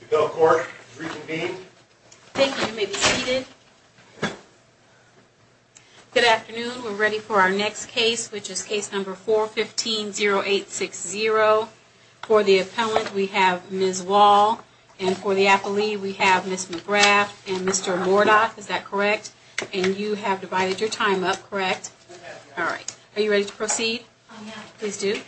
The appeal court is reconvened. Thank you. You may be seated. Good afternoon. We're ready for our next case, which is case number 415-0860. For the appellant, we have Ms. Wall. And for the appellee, we have Ms. McGrath and Mr. Mordoff. Is that correct? And you have divided your time up, correct? We have, yes. All right. Are you ready to proceed? Oh, yeah. Please do.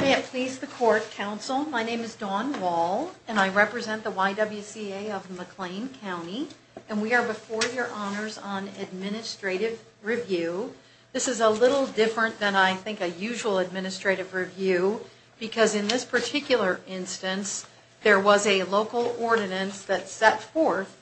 May it please the court, counsel, my name is Dawn Wall, and I represent the YWCA of McLean County, and we are before your honors on administrative review. This is a little different than, I think, a usual administrative review, because in this particular instance, there was a local ordinance that set forth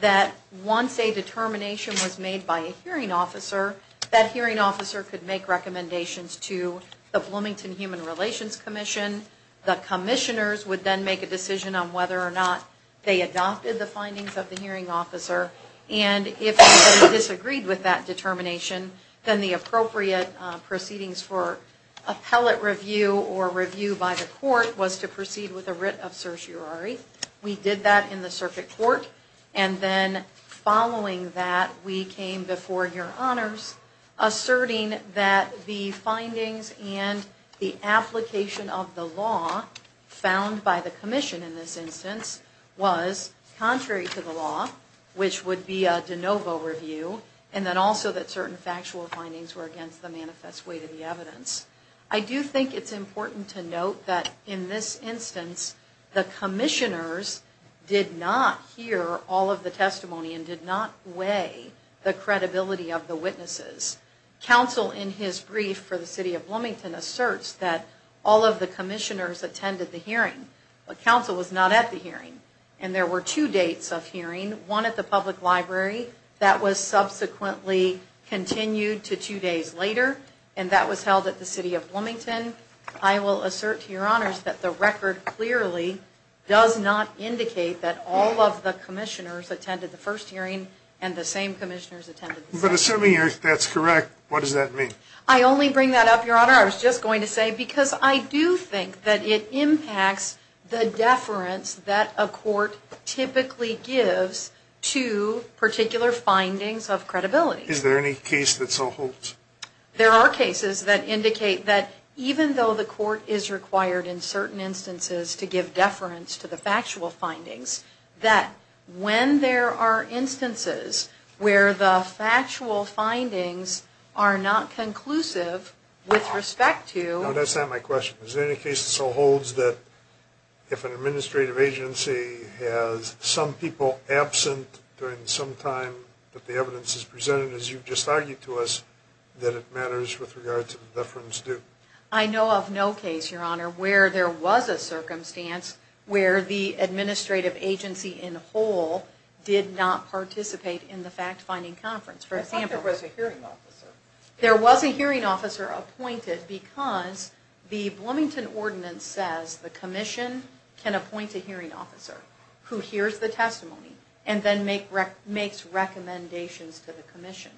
that once a determination was made by a hearing officer, that hearing officer could make recommendations to the Bloomington Human Relations Commission. The commissioners would then make a decision on whether or not they adopted the findings of the hearing officer. And if they disagreed with that determination, then the appropriate proceedings for appellate review or review by the court was to proceed with a writ of certiorari. We did that in the circuit court. And then following that, we came before your honors asserting that the findings and the application of the law found by the commission in this instance was contrary to the law, which would be a de novo review, and then also that certain factual findings were against the manifest way to the evidence. I do think it's important to note that in this instance, the commissioners did not hear all of the testimony and did not weigh the credibility of the witnesses. Counsel, in his brief for the city of Bloomington, asserts that all of the commissioners attended the hearing, but counsel was not at the hearing. And there were two dates of hearing, one at the public library, that was subsequently continued to two days later, and that was held at the city of Bloomington. I will assert to your honors that the record clearly does not indicate that all of the commissioners attended the first hearing and the same commissioners attended the second hearing. But assuming that's correct, what does that mean? I only bring that up, your honor. I was just going to say because I do think that it impacts the deference that a court typically gives to particular findings of credibility. Is there any case that so holds? There are cases that indicate that even though the court is required in certain instances to give deference to the factual findings, that when there are instances where the factual findings are not conclusive with respect to... No, that's not my question. Is there any case that so holds that if an administrative agency has some people absent during some time that the evidence is presented, as you've just argued to us, that it matters with regard to the deference due? I know of no case, your honor, where there was a circumstance where the administrative agency in whole did not participate in the fact-finding conference. I thought there was a hearing officer. There was a hearing officer appointed because the Bloomington ordinance says the commission can appoint a hearing officer who hears the testimony and then makes recommendations to the commission.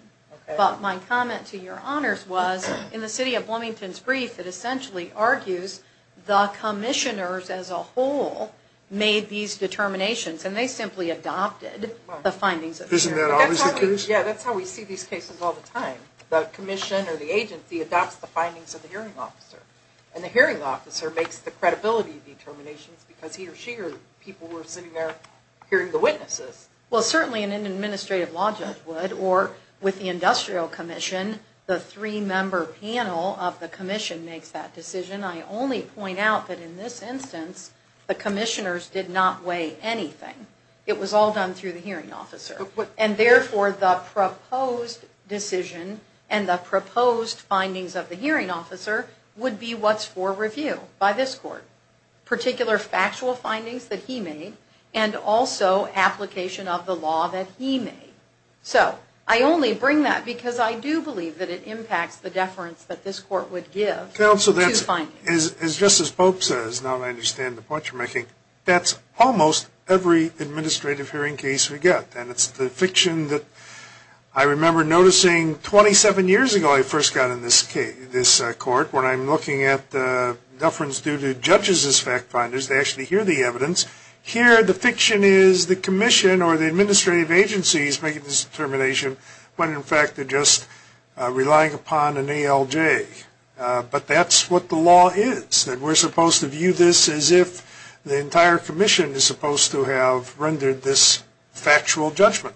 But my comment to your honors was, in the city of Bloomington's brief, it essentially argues the commissioners as a whole made these determinations and they simply adopted the findings of the hearing officer. Isn't that obviously the case? Yeah, that's how we see these cases all the time. The commission or the agency adopts the findings of the hearing officer. And the hearing officer makes the credibility determinations because he or she or people were sitting there hearing the witnesses. Well, certainly an administrative law judge would, or with the industrial commission, the three-member panel of the commission makes that decision. I only point out that in this instance, the commissioners did not weigh anything. It was all done through the hearing officer. And therefore, the proposed decision and the proposed findings of the hearing officer would be what's for review by this court, particular factual findings that he made, and also application of the law that he made. So I only bring that because I do believe that it impacts the deference that this court would give to findings. Counsel, just as Pope says, now that I understand the point you're making, that's almost every administrative hearing case we get. And it's the fiction that I remember noticing 27 years ago I first got in this court when I'm looking at the deference due to judges as fact finders. They actually hear the evidence. Here, the fiction is the commission or the administrative agency is making this determination when, in fact, they're just relying upon an ALJ. But that's what the law is, that we're supposed to view this as if the entire commission is supposed to have rendered this factual judgment.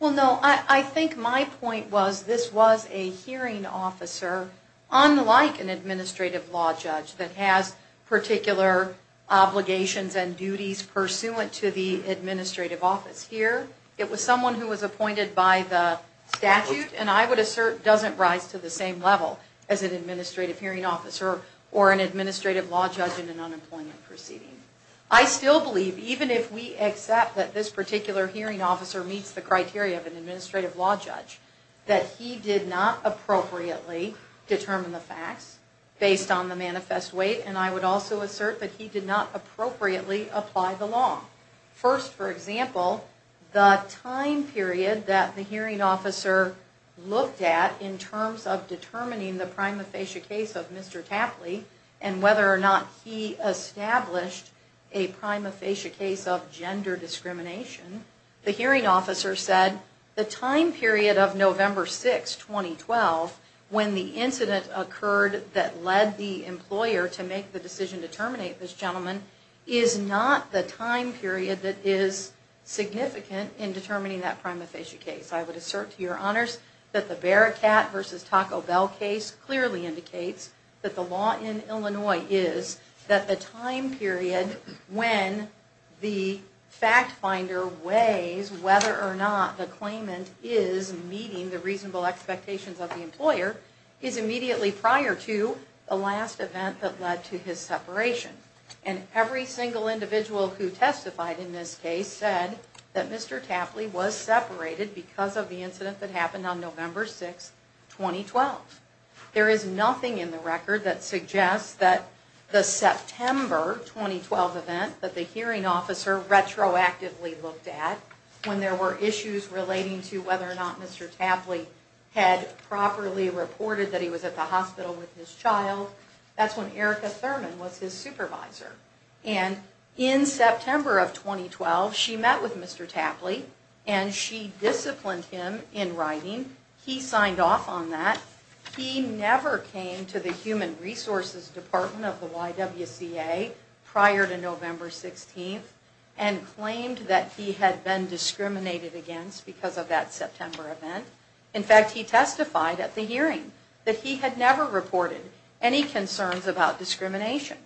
Well, no, I think my point was this was a hearing officer, unlike an administrative law judge that has particular obligations and duties pursuant to the administrative office. Here, it was someone who was appointed by the statute and I would assert doesn't rise to the same level as an administrative hearing officer or an administrative law judge in an unemployment proceeding. I still believe, even if we accept that this particular hearing officer meets the criteria of an administrative law judge, that he did not appropriately determine the facts based on the manifest weight and I would also assert that he did not appropriately apply the law. First, for example, the time period that the hearing officer looked at in terms of determining the prima facie case of Mr. Tapley and whether or not he established a prima facie case of gender discrimination, the hearing officer said the time period of November 6, 2012, when the incident occurred that led the employer to make the decision to terminate this gentleman is not the time period that is significant in determining that prima facie case. I would assert to your honors that the Bearcat v. Taco Bell case clearly indicates that the law in Illinois is that the time period when the fact finder weighs whether or not the claimant is meeting the reasonable expectations of the employer is immediately prior to the last event that led to his separation. And every single individual who testified in this case said that Mr. Tapley was separated because of the incident that happened on November 6, 2012. There is nothing in the record that suggests that the September 2012 event that the hearing officer retroactively looked at when there were issues relating to whether or not Mr. Tapley had properly reported that he was at the hospital with his child, that's when Erica Thurman was his supervisor. And in September of 2012, she met with Mr. Tapley and she disciplined him in writing. He signed off on that. He never came to the Human Resources Department of the YWCA prior to November 16 and claimed that he had been discriminated against because of that September event. In fact, he testified at the hearing that he had never reported any concerns about discrimination.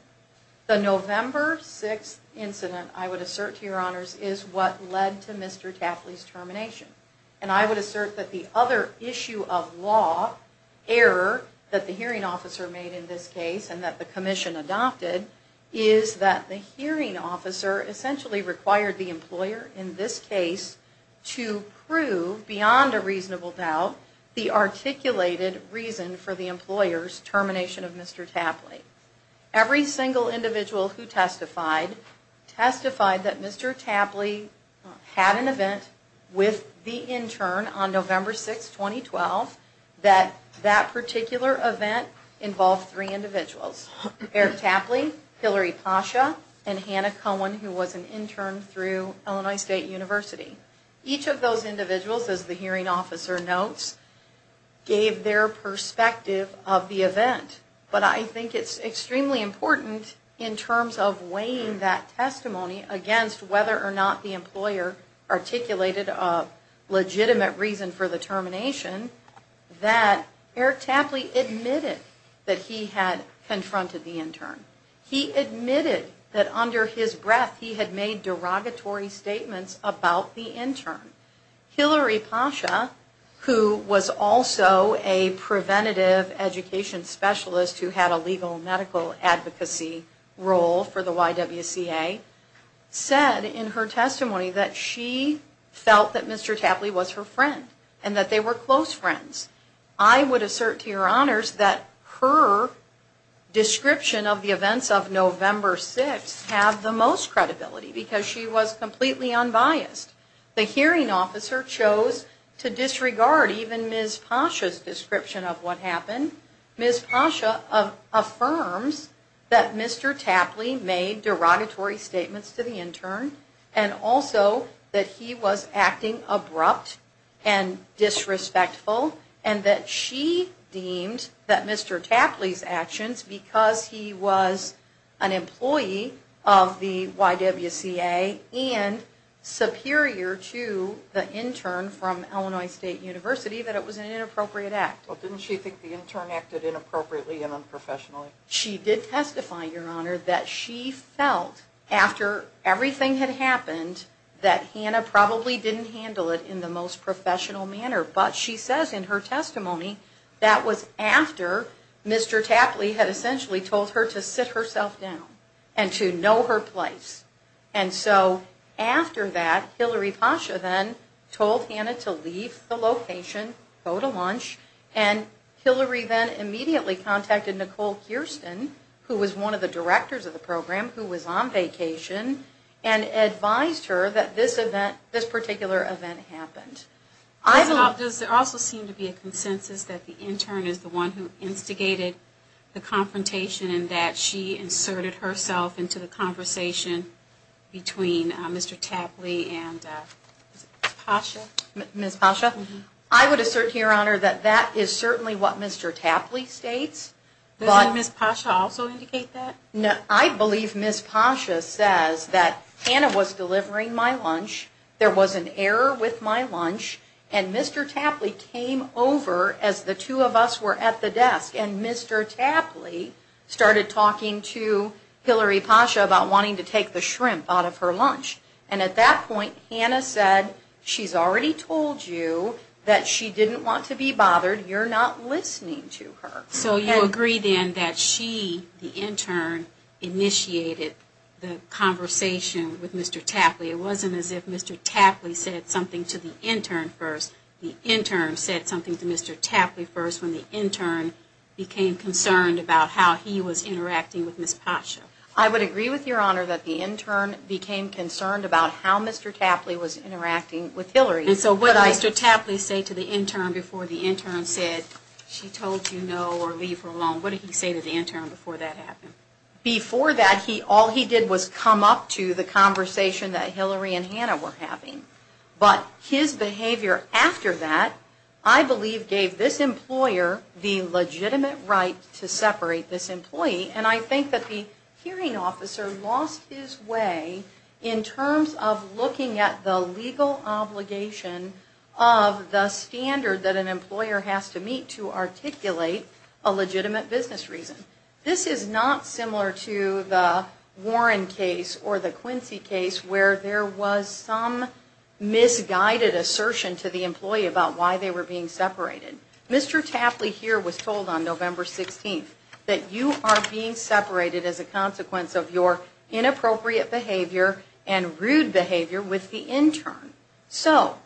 The November 6 incident, I would assert to your honors, is what led to Mr. Tapley's termination. And I would assert that the other issue of law, error, that the hearing officer made in this case and that the commission adopted, is that the hearing officer essentially required the employer in this case to prove beyond a reasonable doubt the articulated reason for the employer's termination of Mr. Tapley. Every single individual who testified that Mr. Tapley had an event with the intern on November 6, 2012, that that particular event involved three individuals. Eric Tapley, Hillary Pasha, and Hannah Cohen, who was an intern through Illinois State University. Each of those individuals, as the hearing officer notes, gave their perspective of the event. But I think it's extremely important in terms of weighing that testimony against whether or not the employer articulated a legitimate reason for the termination, that Eric Tapley admitted that he had confronted the intern. He admitted that under his breath, he had made derogatory statements about the intern. Hillary Pasha, who was also a preventative education specialist who had a legal medical advocacy role for the YWCA, said in her testimony that she felt that Mr. Tapley was her friend and that they were close friends. I would assert to your honors that her description of the events of November 6 have the most credibility because she was completely unbiased. The hearing officer chose to disregard even Ms. Pasha's description of what happened. Ms. Pasha affirms that Mr. Tapley made derogatory statements to the intern and also that he was acting abrupt and disrespectful and that she deemed that Mr. Tapley's actions, because he was an employee of the YWCA and superior to the intern from Illinois State University, that it was an inappropriate act. Well, didn't she think the intern acted inappropriately and unprofessionally? She did testify, your honor, that she felt after everything had happened that Hannah probably didn't handle it in the most professional manner. But she says in her testimony that was after Mr. Tapley had essentially told her to sit herself down and to know her place. And so after that, Hillary Pasha then told Hannah to leave the location, go to lunch, and Hillary then immediately contacted Nicole Kirsten, who was one of the directors of the program, who was on vacation, and advised her that this event, this particular event happened. Does there also seem to be a consensus that the intern is the one who instigated the confrontation and that she inserted herself into the conversation between Mr. Tapley and Pasha? Ms. Pasha? I would assert, your honor, that that is certainly what Mr. Tapley states. Does Ms. Pasha also indicate that? I believe Ms. Pasha says that Hannah was delivering my lunch, there was an error with my lunch, and Mr. Tapley came over as the two of us were at the desk, and Mr. Tapley started talking to Hillary Pasha about wanting to take the shrimp out of her lunch. And at that point, Hannah said, she's already told you that she didn't want to be bothered, you're not listening to her. So you agree then that she, the intern, initiated the conversation with Mr. Tapley. It wasn't as if Mr. Tapley said something to the intern first. The intern said something to Mr. Tapley first when the intern became concerned about how he was interacting with Ms. Pasha. I would agree with your honor that the intern became concerned about how Mr. Tapley was interacting with Hillary. And so what did Mr. Tapley say to the intern before the intern said, she told you no or leave her alone. What did he say to the intern before that happened? Before that, all he did was come up to the conversation that Hillary and Hannah were having. But his behavior after that, I believe gave this employer the legitimate right to separate this employee. And I think that the hearing officer lost his way in terms of looking at the legal obligation of the standard that an employer has to meet to articulate a legitimate business reason. This is not similar to the Warren case or the Quincy case where there was some misguided assertion to the employee about why they were being separated. Mr. Tapley here was told on November 16th that you are being separated as a consequence of your inappropriate behavior and rude behavior with the intern. So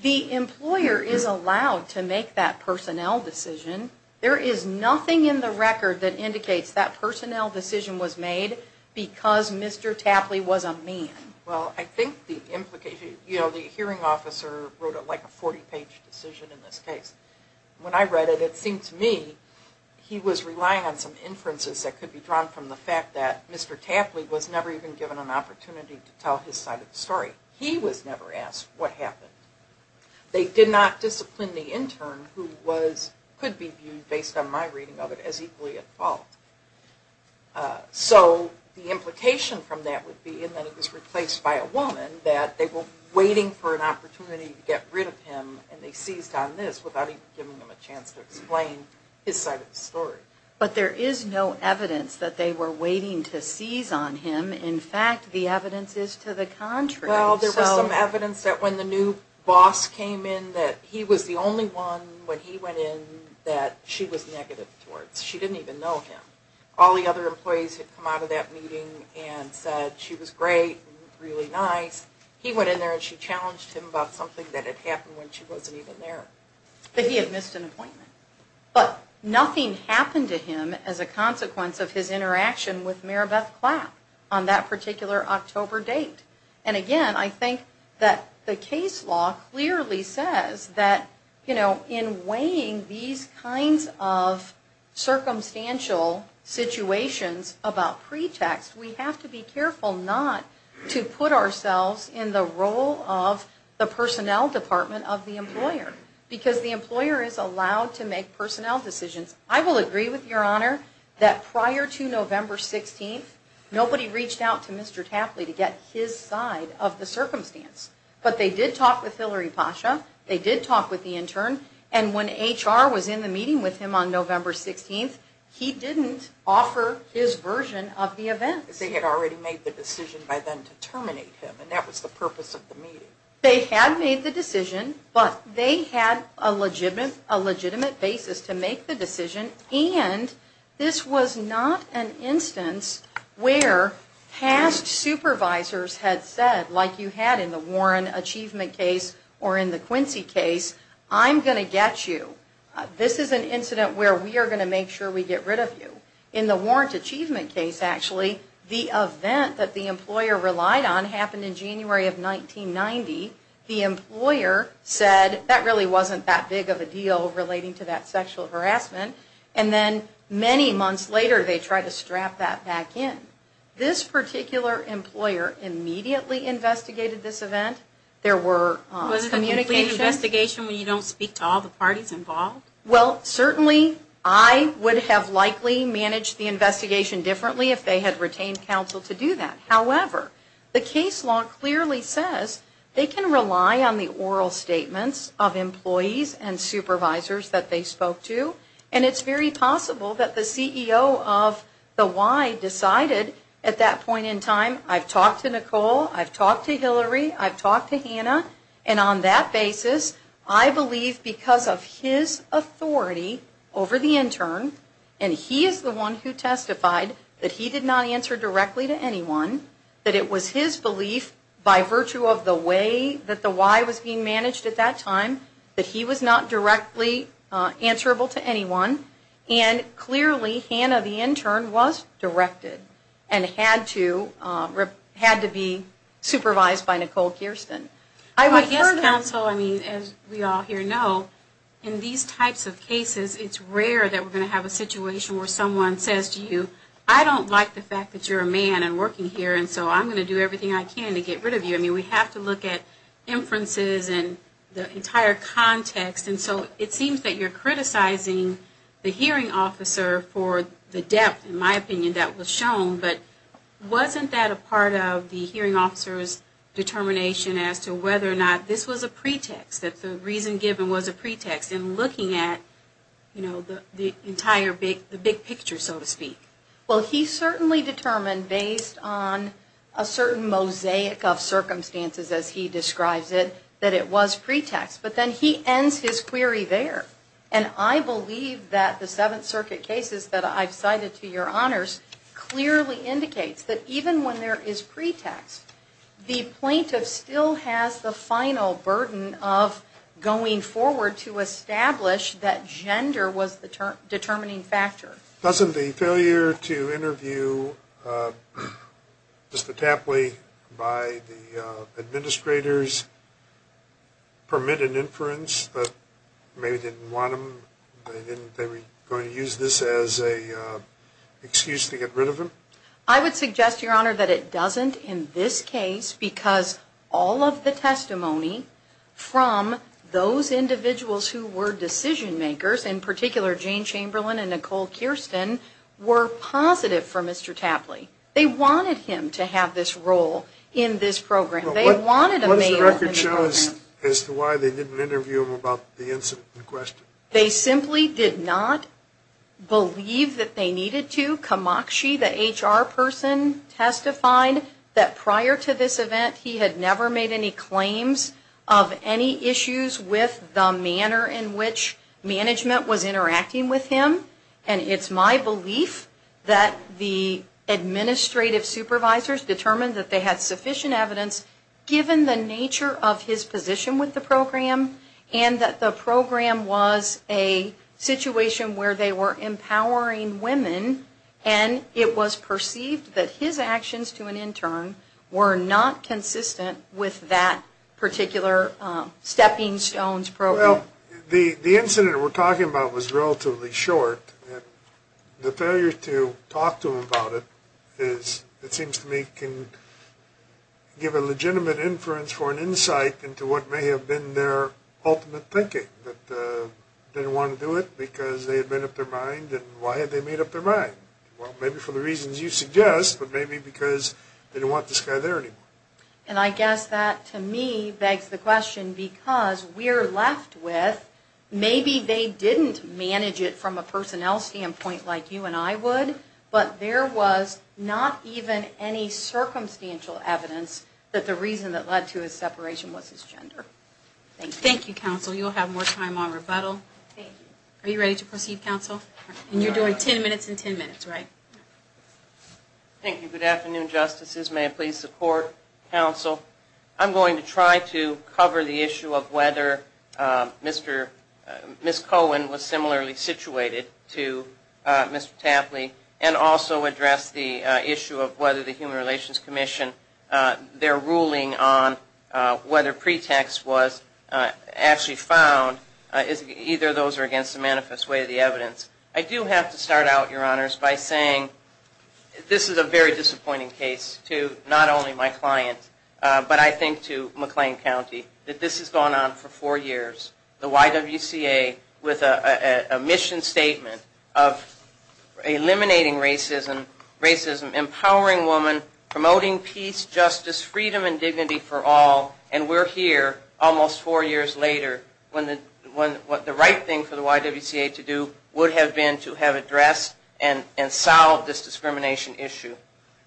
the employer is allowed to make that personnel decision. There is nothing in the record that indicates that personnel decision was made because Mr. Tapley was a man. Well, I think the implication, you know, the hearing officer wrote like a 40-page decision in this case. When I read it, it seemed to me he was relying on some inferences that could be drawn from the fact that Mr. Tapley was never even given an opportunity to tell his side of the story. He was never asked what happened. They did not discipline the intern who could be viewed, based on my reading of it, as equally at fault. So the implication from that would be that he was replaced by a woman, that they were waiting for an opportunity to get rid of him and they seized on this without even giving him a chance to explain his side of the story. But there is no evidence that they were waiting to seize on him. In fact, the evidence is to the contrary. Well, there was some evidence that when the new boss came in that he was the only one when he went in that she was negative towards. She didn't even know him. All the other employees had come out of that meeting and said she was great, really nice. He went in there and she challenged him about something that had happened when she wasn't even there. But he had missed an appointment. But nothing happened to him as a consequence of his interaction with Maribeth Clapp on that particular October date. And again, I think that the case law clearly says that, you know, in weighing these kinds of circumstantial situations about pretext, we have to be careful not to put ourselves in the role of the personnel department of the employer because the employer is allowed to make personnel decisions. I will agree with Your Honor that prior to November 16th, nobody reached out to Mr. Tapley to get his side of the circumstance. But they did talk with Hillary Pasha. They did talk with the intern. And when HR was in the meeting with him on November 16th, he didn't offer his version of the event. They had already made the decision by then to terminate him, and that was the purpose of the meeting. They had made the decision, but they had a legitimate basis to make the decision. And this was not an instance where past supervisors had said, like you had in the Warren achievement case or in the Quincy case, I'm going to get you. This is an incident where we are going to make sure we get rid of you. In the Warrant Achievement case, actually, the event that the employer relied on happened in January of 1990. The employer said that really wasn't that big of a deal relating to that sexual harassment, and then many months later they tried to strap that back in. This particular employer immediately investigated this event. There were communications. Was it a complete investigation when you don't speak to all the parties involved? Well, certainly I would have likely managed the investigation differently if they had retained counsel to do that. However, the case law clearly says they can rely on the oral statements of employees and supervisors that they spoke to, and it's very possible that the CEO of the Y decided at that point in time, I've talked to Nicole, I've talked to Hillary, I've talked to Hannah, and on that basis I believe because of his authority over the intern, and he is the one who testified that he did not answer directly to anyone, that it was his belief by virtue of the way that the Y was being managed at that time that he was not directly answerable to anyone, and clearly Hannah, the intern, was directed and had to be supervised by Nicole Kirsten. I guess counsel, I mean, as we all here know, in these types of cases, it's rare that we're going to have a situation where someone says to you, I don't like the fact that you're a man and working here, and so I'm going to do everything I can to get rid of you. I mean, we have to look at inferences and the entire context, and so it seems that you're criticizing the hearing officer for the depth, in my opinion, that was shown, but wasn't that a part of the hearing officer's determination as to whether or not this was a pretext, that the reason given was a pretext in looking at the entire big picture, so to speak? Well, he certainly determined based on a certain mosaic of circumstances, as he describes it, that it was pretext, but then he ends his query there, and I believe that the Seventh Circuit cases that I've cited to your honors clearly indicates that even when there is pretext, the plaintiff still has the final burden of going forward to establish that gender was the determining factor. Doesn't the failure to interview Mr. Tapley by the administrators permit an inference that maybe they didn't want him, they were going to use this as an excuse to get rid of him? I would suggest, your honor, that it doesn't in this case, because all of the testimony from those individuals who were decision makers, in particular Jane Chamberlain and Nicole Kirsten, were positive for Mr. Tapley. They wanted him to have this role in this program. They wanted a male in the program. What does the record show as to why they didn't interview him about the incident in question? They simply did not believe that they needed to. Kamakshi, the HR person, testified that prior to this event he had never made any claims of any issues with the manner in which management was interacting with him. And it's my belief that the administrative supervisors determined that they had sufficient evidence given the nature of his position with the program and that the program was a situation where they were empowering women and it was appropriate for them to have that particular stepping stones program. Well, the incident we're talking about was relatively short. The failure to talk to him about it is, it seems to me, can give a legitimate inference or an insight into what may have been their ultimate thinking, that they didn't want to do it because they had made up their mind. And why had they made up their mind? Well, maybe for the reasons you suggest, but maybe because they didn't want this guy there anymore. And I guess that to me begs the question because we're left with maybe they didn't manage it from a personnel standpoint like you and I would, but there was not even any circumstantial evidence that the reason that led to his separation was his gender. Thank you. Thank you, Counsel. You'll have more time on rebuttal. Thank you. Are you ready to proceed, Counsel? We are. And you're doing 10 minutes in 10 minutes, right? Thank you. Good afternoon, Justices. May I please support, Counsel? I'm going to try to cover the issue of whether Ms. Cohen was similarly situated to Mr. Tapley and also address the issue of whether the Human Relations Commission, their ruling on whether pretext was actually found. Either of those are against the manifest way of the evidence. I do have to start out, Your Honors, by saying this is a very disappointing case to not only my client, but I think to McLean County, that this has gone on for four years. The YWCA with a mission statement of eliminating racism, empowering women, promoting peace, justice, freedom, and dignity for all, and we're here almost four years later when the right thing for the YWCA to do would have been to have addressed and solved this discrimination issue.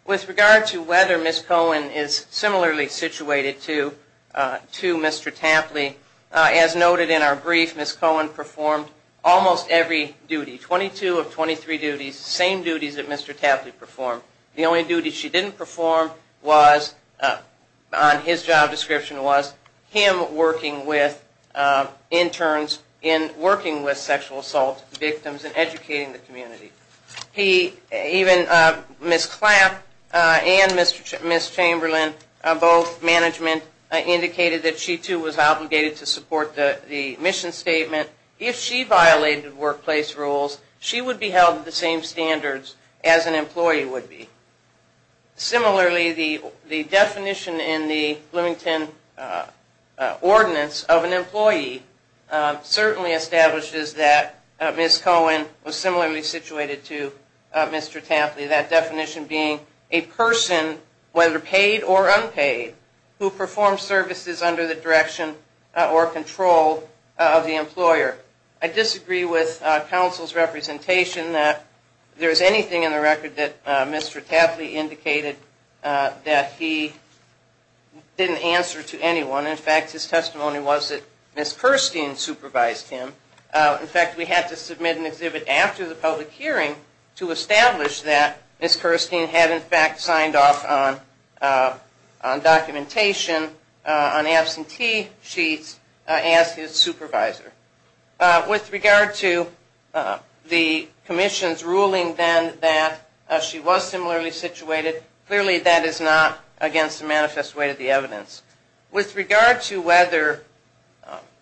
With regard to whether Ms. Cohen is similarly situated to Mr. Tapley, as noted in our brief, Ms. Cohen performed almost every duty, 22 of 23 duties, the same duties that Mr. Tapley performed. The only duty she didn't perform on his job description was him working with sexual assault victims and educating the community. Even Ms. Clapp and Ms. Chamberlain, both management, indicated that she too was obligated to support the mission statement. If she violated workplace rules, she would be held to the same standards as an employee would be. Similarly, the definition in the Bloomington Ordinance of an employee certainly establishes that Ms. Cohen was similarly situated to Mr. Tapley, that definition being a person, whether paid or unpaid, who performed services under the direction or control of the employer. I disagree with counsel's representation that there is anything in the record that Mr. Tapley indicated that he didn't answer to anyone. In fact, his testimony was that Ms. Kirstein supervised him. In fact, we had to submit an exhibit after the public hearing to establish that Ms. Kirstein had in fact signed off on documentation on absentee sheets as his supervisor. With regard to the commission's ruling then that she was similarly situated, clearly that is not against the manifest way of the evidence. With regard to whether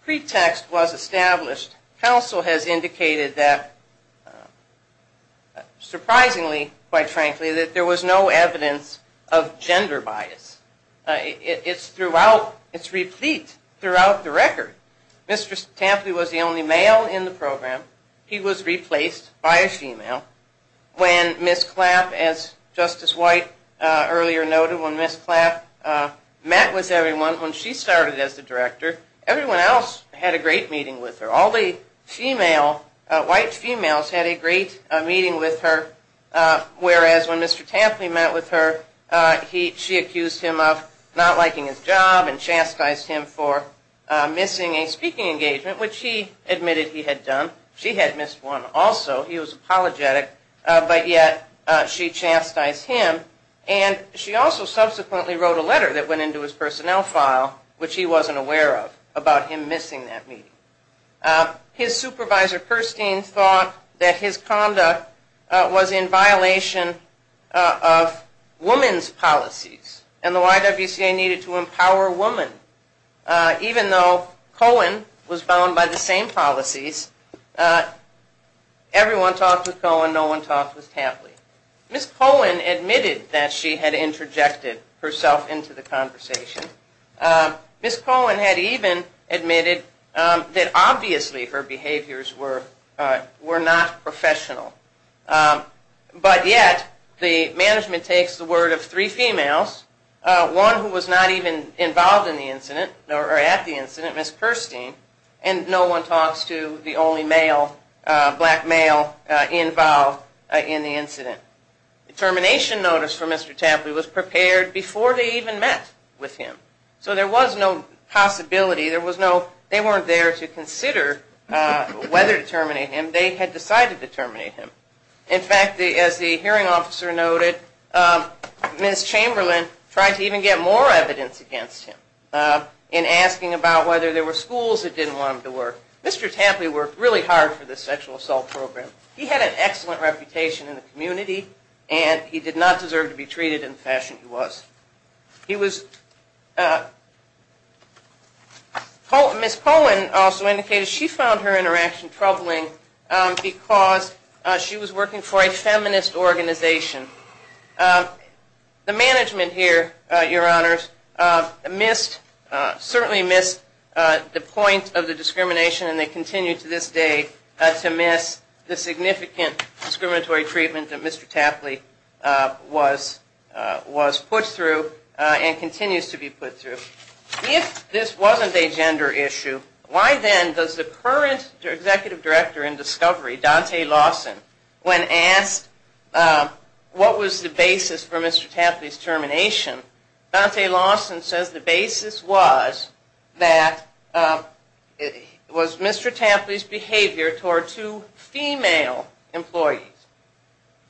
pretext was established, counsel has indicated that surprisingly, quite frankly, that there was no evidence of gender bias. It's throughout, it's replete throughout the record. Mr. Tapley was the only male in the program. He was replaced by a female. When Ms. Clapp, as Justice White earlier noted, when Ms. Clapp met with everyone, when she started as the director, everyone else had a great meeting with her. All the female, white females had a great meeting with her, whereas when Mr. Tapley met with her, she accused him of not liking his job and chastised him for missing a speaking engagement, which he admitted he had done. She had missed one also. He was apologetic, but yet she chastised him. And she also subsequently wrote a letter that went into his personnel file, which he wasn't aware of, about him missing that meeting. His supervisor, Kirstein, thought that his conduct was in violation of women's policies, and the YWCA needed to empower women. Even though Cohen was bound by the same policies, everyone talked with Cohen, no one talked with Tapley. Ms. Cohen admitted that she had interjected herself into the conversation. Ms. Cohen had even admitted that obviously her behaviors were not professional. But yet, the management takes the word of three females, one who was not even involved in the incident, or at the incident, Ms. Kirstein, and no one talks to the only black male involved in the incident. A termination notice for Mr. Tapley was prepared before they even met with him. So there was no possibility, they weren't there to consider whether to terminate him, they had decided to terminate him. In fact, as the hearing officer noted, Ms. Chamberlain tried to even get more evidence against him in asking about whether there were schools that didn't want him to work. Mr. Tapley worked really hard for this sexual assault program. He had an excellent reputation in the community, and he did not deserve to be treated in the fashion he was. Ms. Cohen also indicated she found her interaction troubling because she was working for a feminist organization. The management here, your honors, certainly missed the point of the discrimination, and they continue to this day to miss the significant discriminatory treatment that Mr. Tapley was put through. And continues to be put through. If this wasn't a gender issue, why then does the current executive director in Discovery, Dante Lawson, when asked what was the basis for Mr. Tapley's termination, Dante Lawson says the basis was Mr. Tapley's behavior toward two female employees.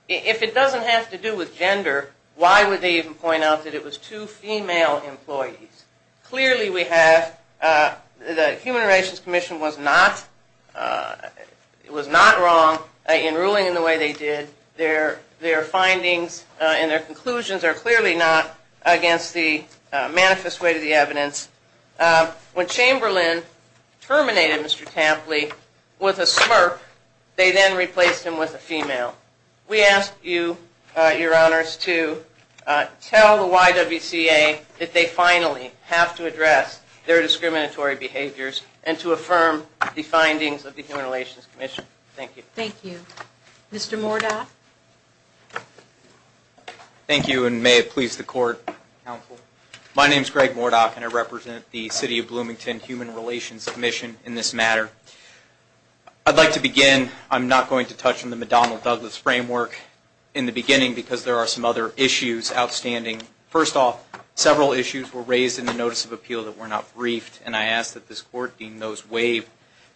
If it doesn't have to do with gender, why would they even point out that it was two female employees? Clearly we have, the Human Relations Commission was not wrong in ruling in the way they did. Their findings and their conclusions are clearly not against the manifest way to the evidence. When Chamberlain terminated Mr. Tapley with a smirk, they then replaced him with a female. We ask you, your honors, to tell the YWCA that they finally have to address their discriminatory behaviors and to affirm the findings of the Human Relations Commission. Thank you. Thank you. Mr. Mordoff. Thank you, and may it please the court, counsel. My name is Greg Mordoff, and I represent the City of Bloomington Human Relations Commission in this matter. I'd like to begin, I'm not going to touch on the McDonnell-Douglas framework in the beginning because there are some other issues outstanding. First off, several issues were raised in the notice of appeal that were not briefed, and I ask that this court deem those waived.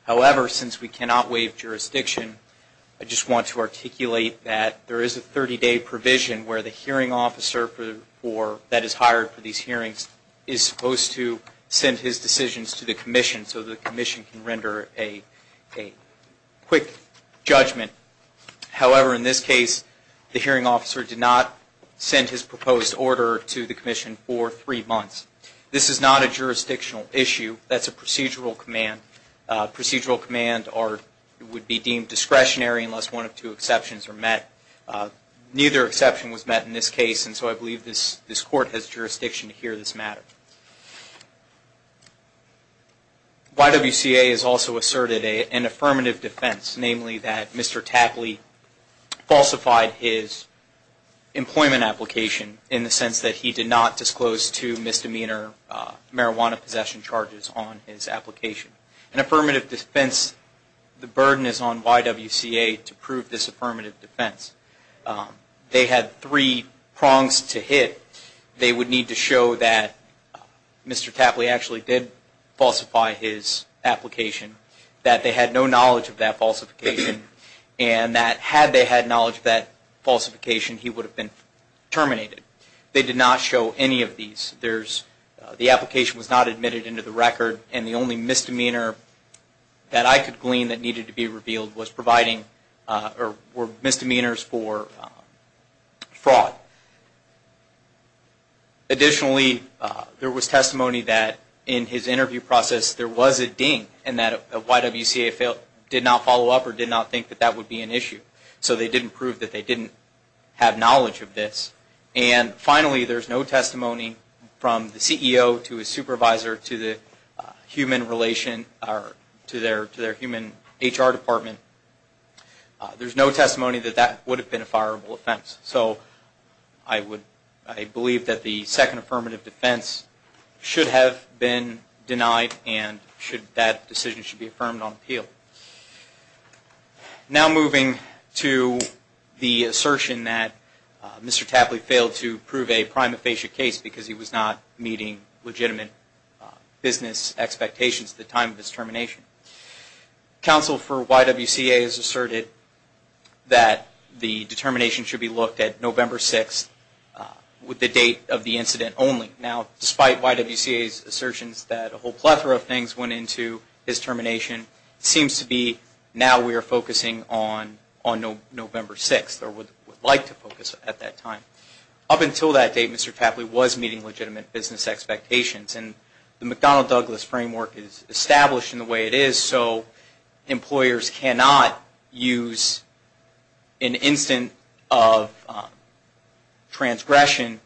However, since we cannot waive jurisdiction, I just want to articulate that there is a 30-day provision where the hearing officer that is hired for these hearings is supposed to send his decisions to the commission so the commission can render a quick judgment. However, in this case, the hearing officer did not send his proposed order to the commission for three months. This is not a jurisdictional issue. That's a procedural command. A procedural command would be deemed discretionary unless one of two exceptions are met. Neither exception was met in this case, and so I believe this court has jurisdiction to hear this matter. YWCA has also asserted an affirmative defense, namely that Mr. Tapley falsified his employment application in the sense that he did not disclose two misdemeanor marijuana possession charges on his application. An affirmative defense, the burden is on YWCA to prove this affirmative defense. They had three prongs to hit. They would need to show that Mr. Tapley actually did falsify his application, that they had no knowledge of that falsification, and that had they had knowledge of that falsification, he would have been terminated. They did not show any of these. The application was not admitted into the record, and the only misdemeanor that I could glean that needed to be revealed was providing or were misdemeanors for fraud. Additionally, there was testimony that in his interview process there was a ding, and that YWCA did not follow up or did not think that that would be an issue. So they didn't prove that they didn't have knowledge of this. And finally, there's no testimony from the CEO to his supervisor to the human relation or to their human HR department. There's no testimony that that would have been a fireable offense. So I believe that the second affirmative defense should have been denied and that decision should be affirmed on appeal. Now moving to the assertion that Mr. Tapley failed to prove a prima facie case because he was not meeting legitimate business expectations at the time of his termination. Counsel for YWCA has asserted that the determination should be looked at November 6th with the date of the incident only. Now, despite YWCA's assertions that a whole plethora of things went into his termination, it seems to be now we are focusing on November 6th or would like to focus at that time. Up until that date, Mr. Tapley was meeting legitimate business expectations, and the McDonnell-Douglas framework is established in the way it is, so employers cannot use an instant of transgression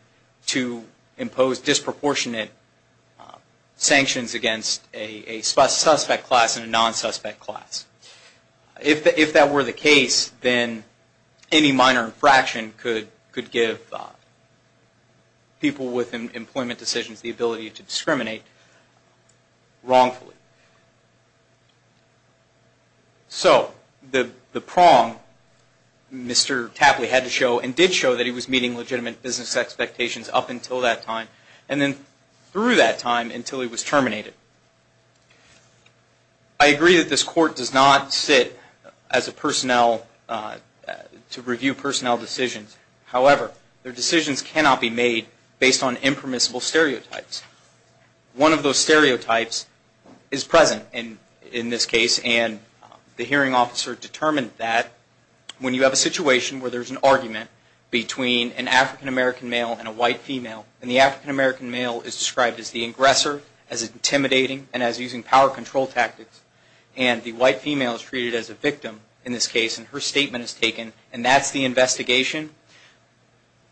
to impose disproportionate sanctions against a suspect class and a non-suspect class. If that were the case, then any minor infraction could give people with employment decisions the ability to discriminate wrongfully. So the prong Mr. Tapley had to show and did show that he was meeting legitimate business expectations up until that time and then through that time until he was terminated. I agree that this Court does not sit to review personnel decisions. However, their decisions cannot be made based on impermissible stereotypes. One of those stereotypes is present in this case, and the hearing officer determined that when you have a situation where there is an argument between an African-American male and a white female, and the African-American male is described as the aggressor, as intimidating, and as using power control tactics, and the white female is treated as a victim in this case and her statement is taken and that's the investigation.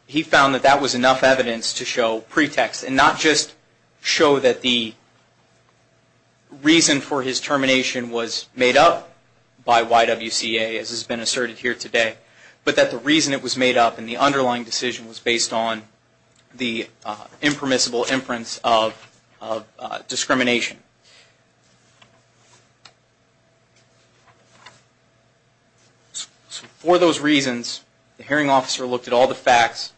He found that that was enough evidence to show pretext and not just show that the reason for his termination was made up by YWCA as has been asserted here today, but that the reason it was made up in the underlying decision was based on the impermissible inference of discrimination. For those reasons, the hearing officer looked at all the facts,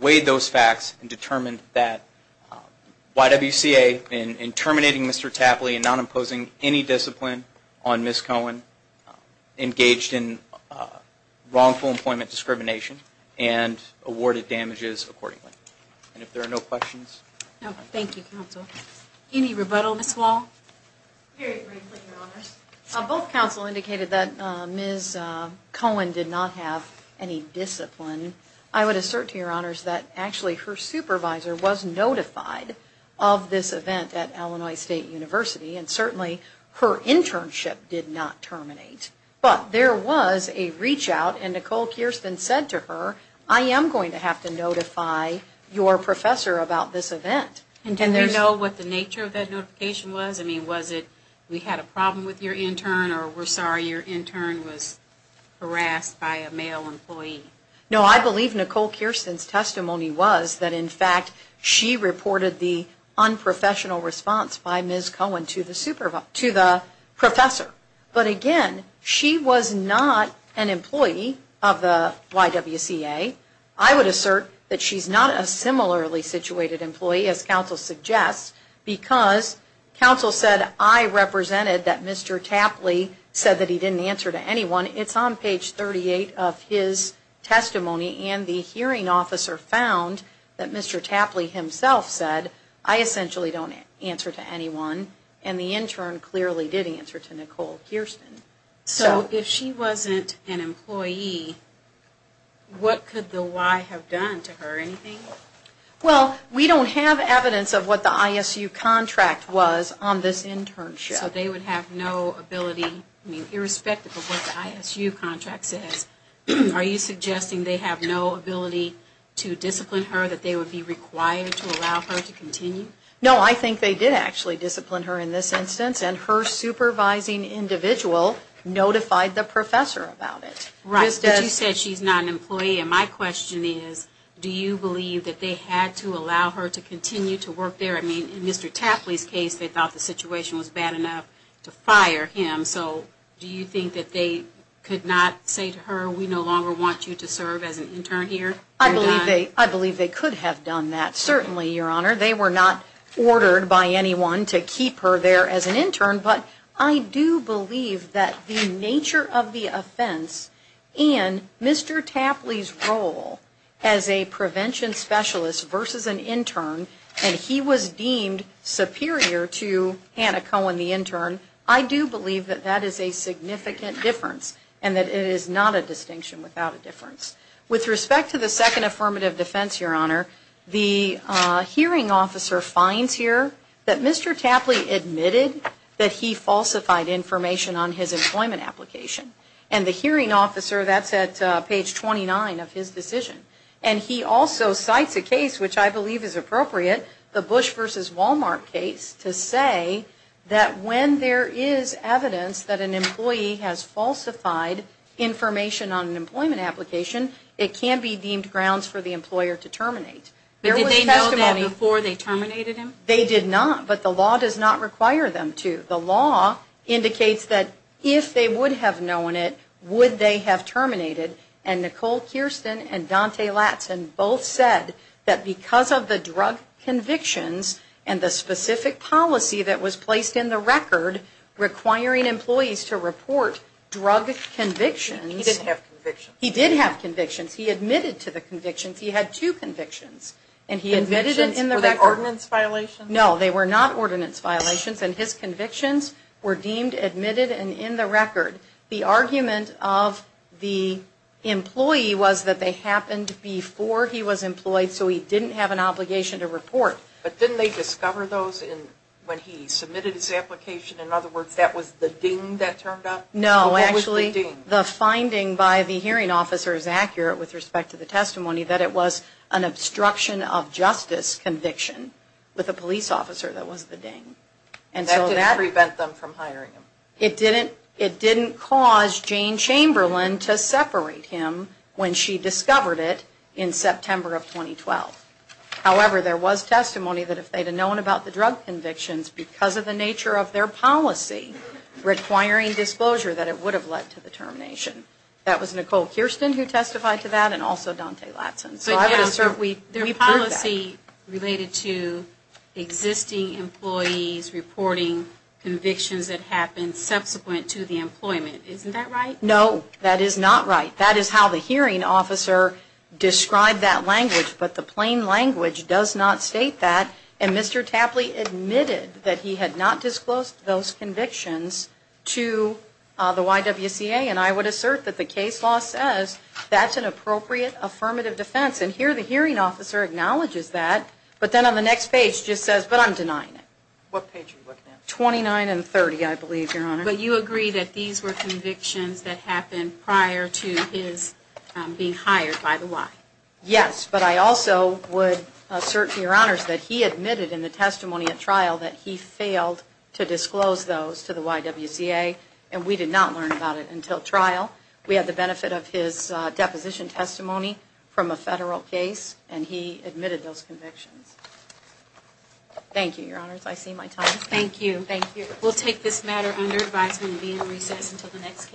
weighed those facts, and determined that YWCA in terminating Mr. Tapley and not imposing any discipline on Ms. Cohen, engaged in wrongful employment discrimination, and awarded damages accordingly. And if there are no questions? No. Thank you, counsel. Any rebuttal, Ms. Wall? Very briefly, Your Honors. Both counsel indicated that Ms. Cohen did not have any discipline. I would assert to Your Honors that actually her supervisor was notified of this event at Illinois State University, and certainly her internship did not terminate. But there was a reach-out, and Nicole Kirsten said to her, I am going to have to notify your professor about this event. And did you know what the nature of that notification was? I mean, was it we had a problem with your intern or we're sorry your intern was harassed by a male employee? No, I believe Nicole Kirsten's testimony was that, in fact, she reported the unprofessional response by Ms. Cohen to the professor. But again, she was not an employee of the YWCA. I would assert that she's not a similarly situated employee, as counsel suggests, because counsel said I represented that Mr. Tapley said that he didn't answer to anyone. It's on page 38 of his testimony, and the hearing officer found that Mr. Tapley himself said, I essentially don't answer to anyone, and the intern clearly did answer to Nicole Kirsten. So if she wasn't an employee, what could the Y have done to her, anything? Well, we don't have evidence of what the ISU contract was on this internship. So they would have no ability, I mean, irrespective of what the ISU contract says, are you suggesting they have no ability to discipline her, that they would be required to allow her to continue? No, I think they did actually discipline her in this instance, and her supervising individual notified the professor about it. Right, but you said she's not an employee, and my question is, do you believe that they had to allow her to continue to work there? I mean, in Mr. Tapley's case, they thought the situation was bad enough to fire him, so do you think that they could not say to her, we no longer want you to serve as an intern here? I believe they could have done that, certainly, Your Honor. They were not ordered by anyone to keep her there as an intern, but I do believe that the nature of the offense and Mr. Tapley's role as a prevention specialist versus an intern, and he was deemed superior to Hannah Cohen, the intern, I do believe that that is a significant difference, and that it is not a distinction without a difference. With respect to the second affirmative defense, Your Honor, the hearing officer finds here that Mr. Tapley admitted that he falsified information on his employment application, and the hearing officer, that's at page 29 of his decision, and he also cites a case, which I believe is appropriate, the Bush versus Walmart case, to say that when there is evidence that an employee has falsified information on an employment application, it can be deemed grounds for the employer to terminate. But did they know that before they terminated him? They did not, but the law does not require them to. The law indicates that if they would have known it, would they have terminated, and Nicole Kirsten and Dante Latson both said that because of the drug convictions and the specific policy that was placed in the record requiring employees to report drug convictions. He didn't have convictions. He did have convictions. He admitted to the convictions. He had two convictions, and he admitted it in the record. Convictions? Were they ordinance violations? No, they were not ordinance violations, and his convictions were deemed admitted and in the record. The argument of the employee was that they happened before he was employed, so he didn't have an obligation to report. But didn't they discover those when he submitted his application? In other words, that was the ding that turned up? No, actually, the finding by the hearing officer is accurate with respect to the testimony that it was an obstruction of justice conviction with a police officer that was the ding. That didn't prevent them from hiring him? It didn't cause Jane Chamberlain to separate him when she discovered it in September of 2012. However, there was testimony that if they had known about the drug convictions because of the nature of their policy requiring disclosure that it would have led to the termination. That was Nicole Kirsten who testified to that and also Dante Latson. Their policy related to existing employees reporting convictions that happened subsequent to the employment. Isn't that right? No, that is not right. That is how the hearing officer described that language, but the plain language does not state that. And Mr. Tapley admitted that he had not disclosed those convictions to the YWCA, and I would assert that the case law says that's an appropriate affirmative defense. And here the hearing officer acknowledges that, but then on the next page just says, but I'm denying it. What page are you looking at? 29 and 30, I believe, Your Honor. But you agree that these were convictions that happened prior to his being hired by the Y? Yes, but I also would assert to Your Honors that he admitted in the testimony at trial that he failed to disclose those to the YWCA, and we did not learn about it until trial. We had the benefit of his deposition testimony from a federal case, and he admitted those convictions. Thank you, Your Honors. I see my time is up. Thank you. We'll take this matter under advisement and be in recess until the next case.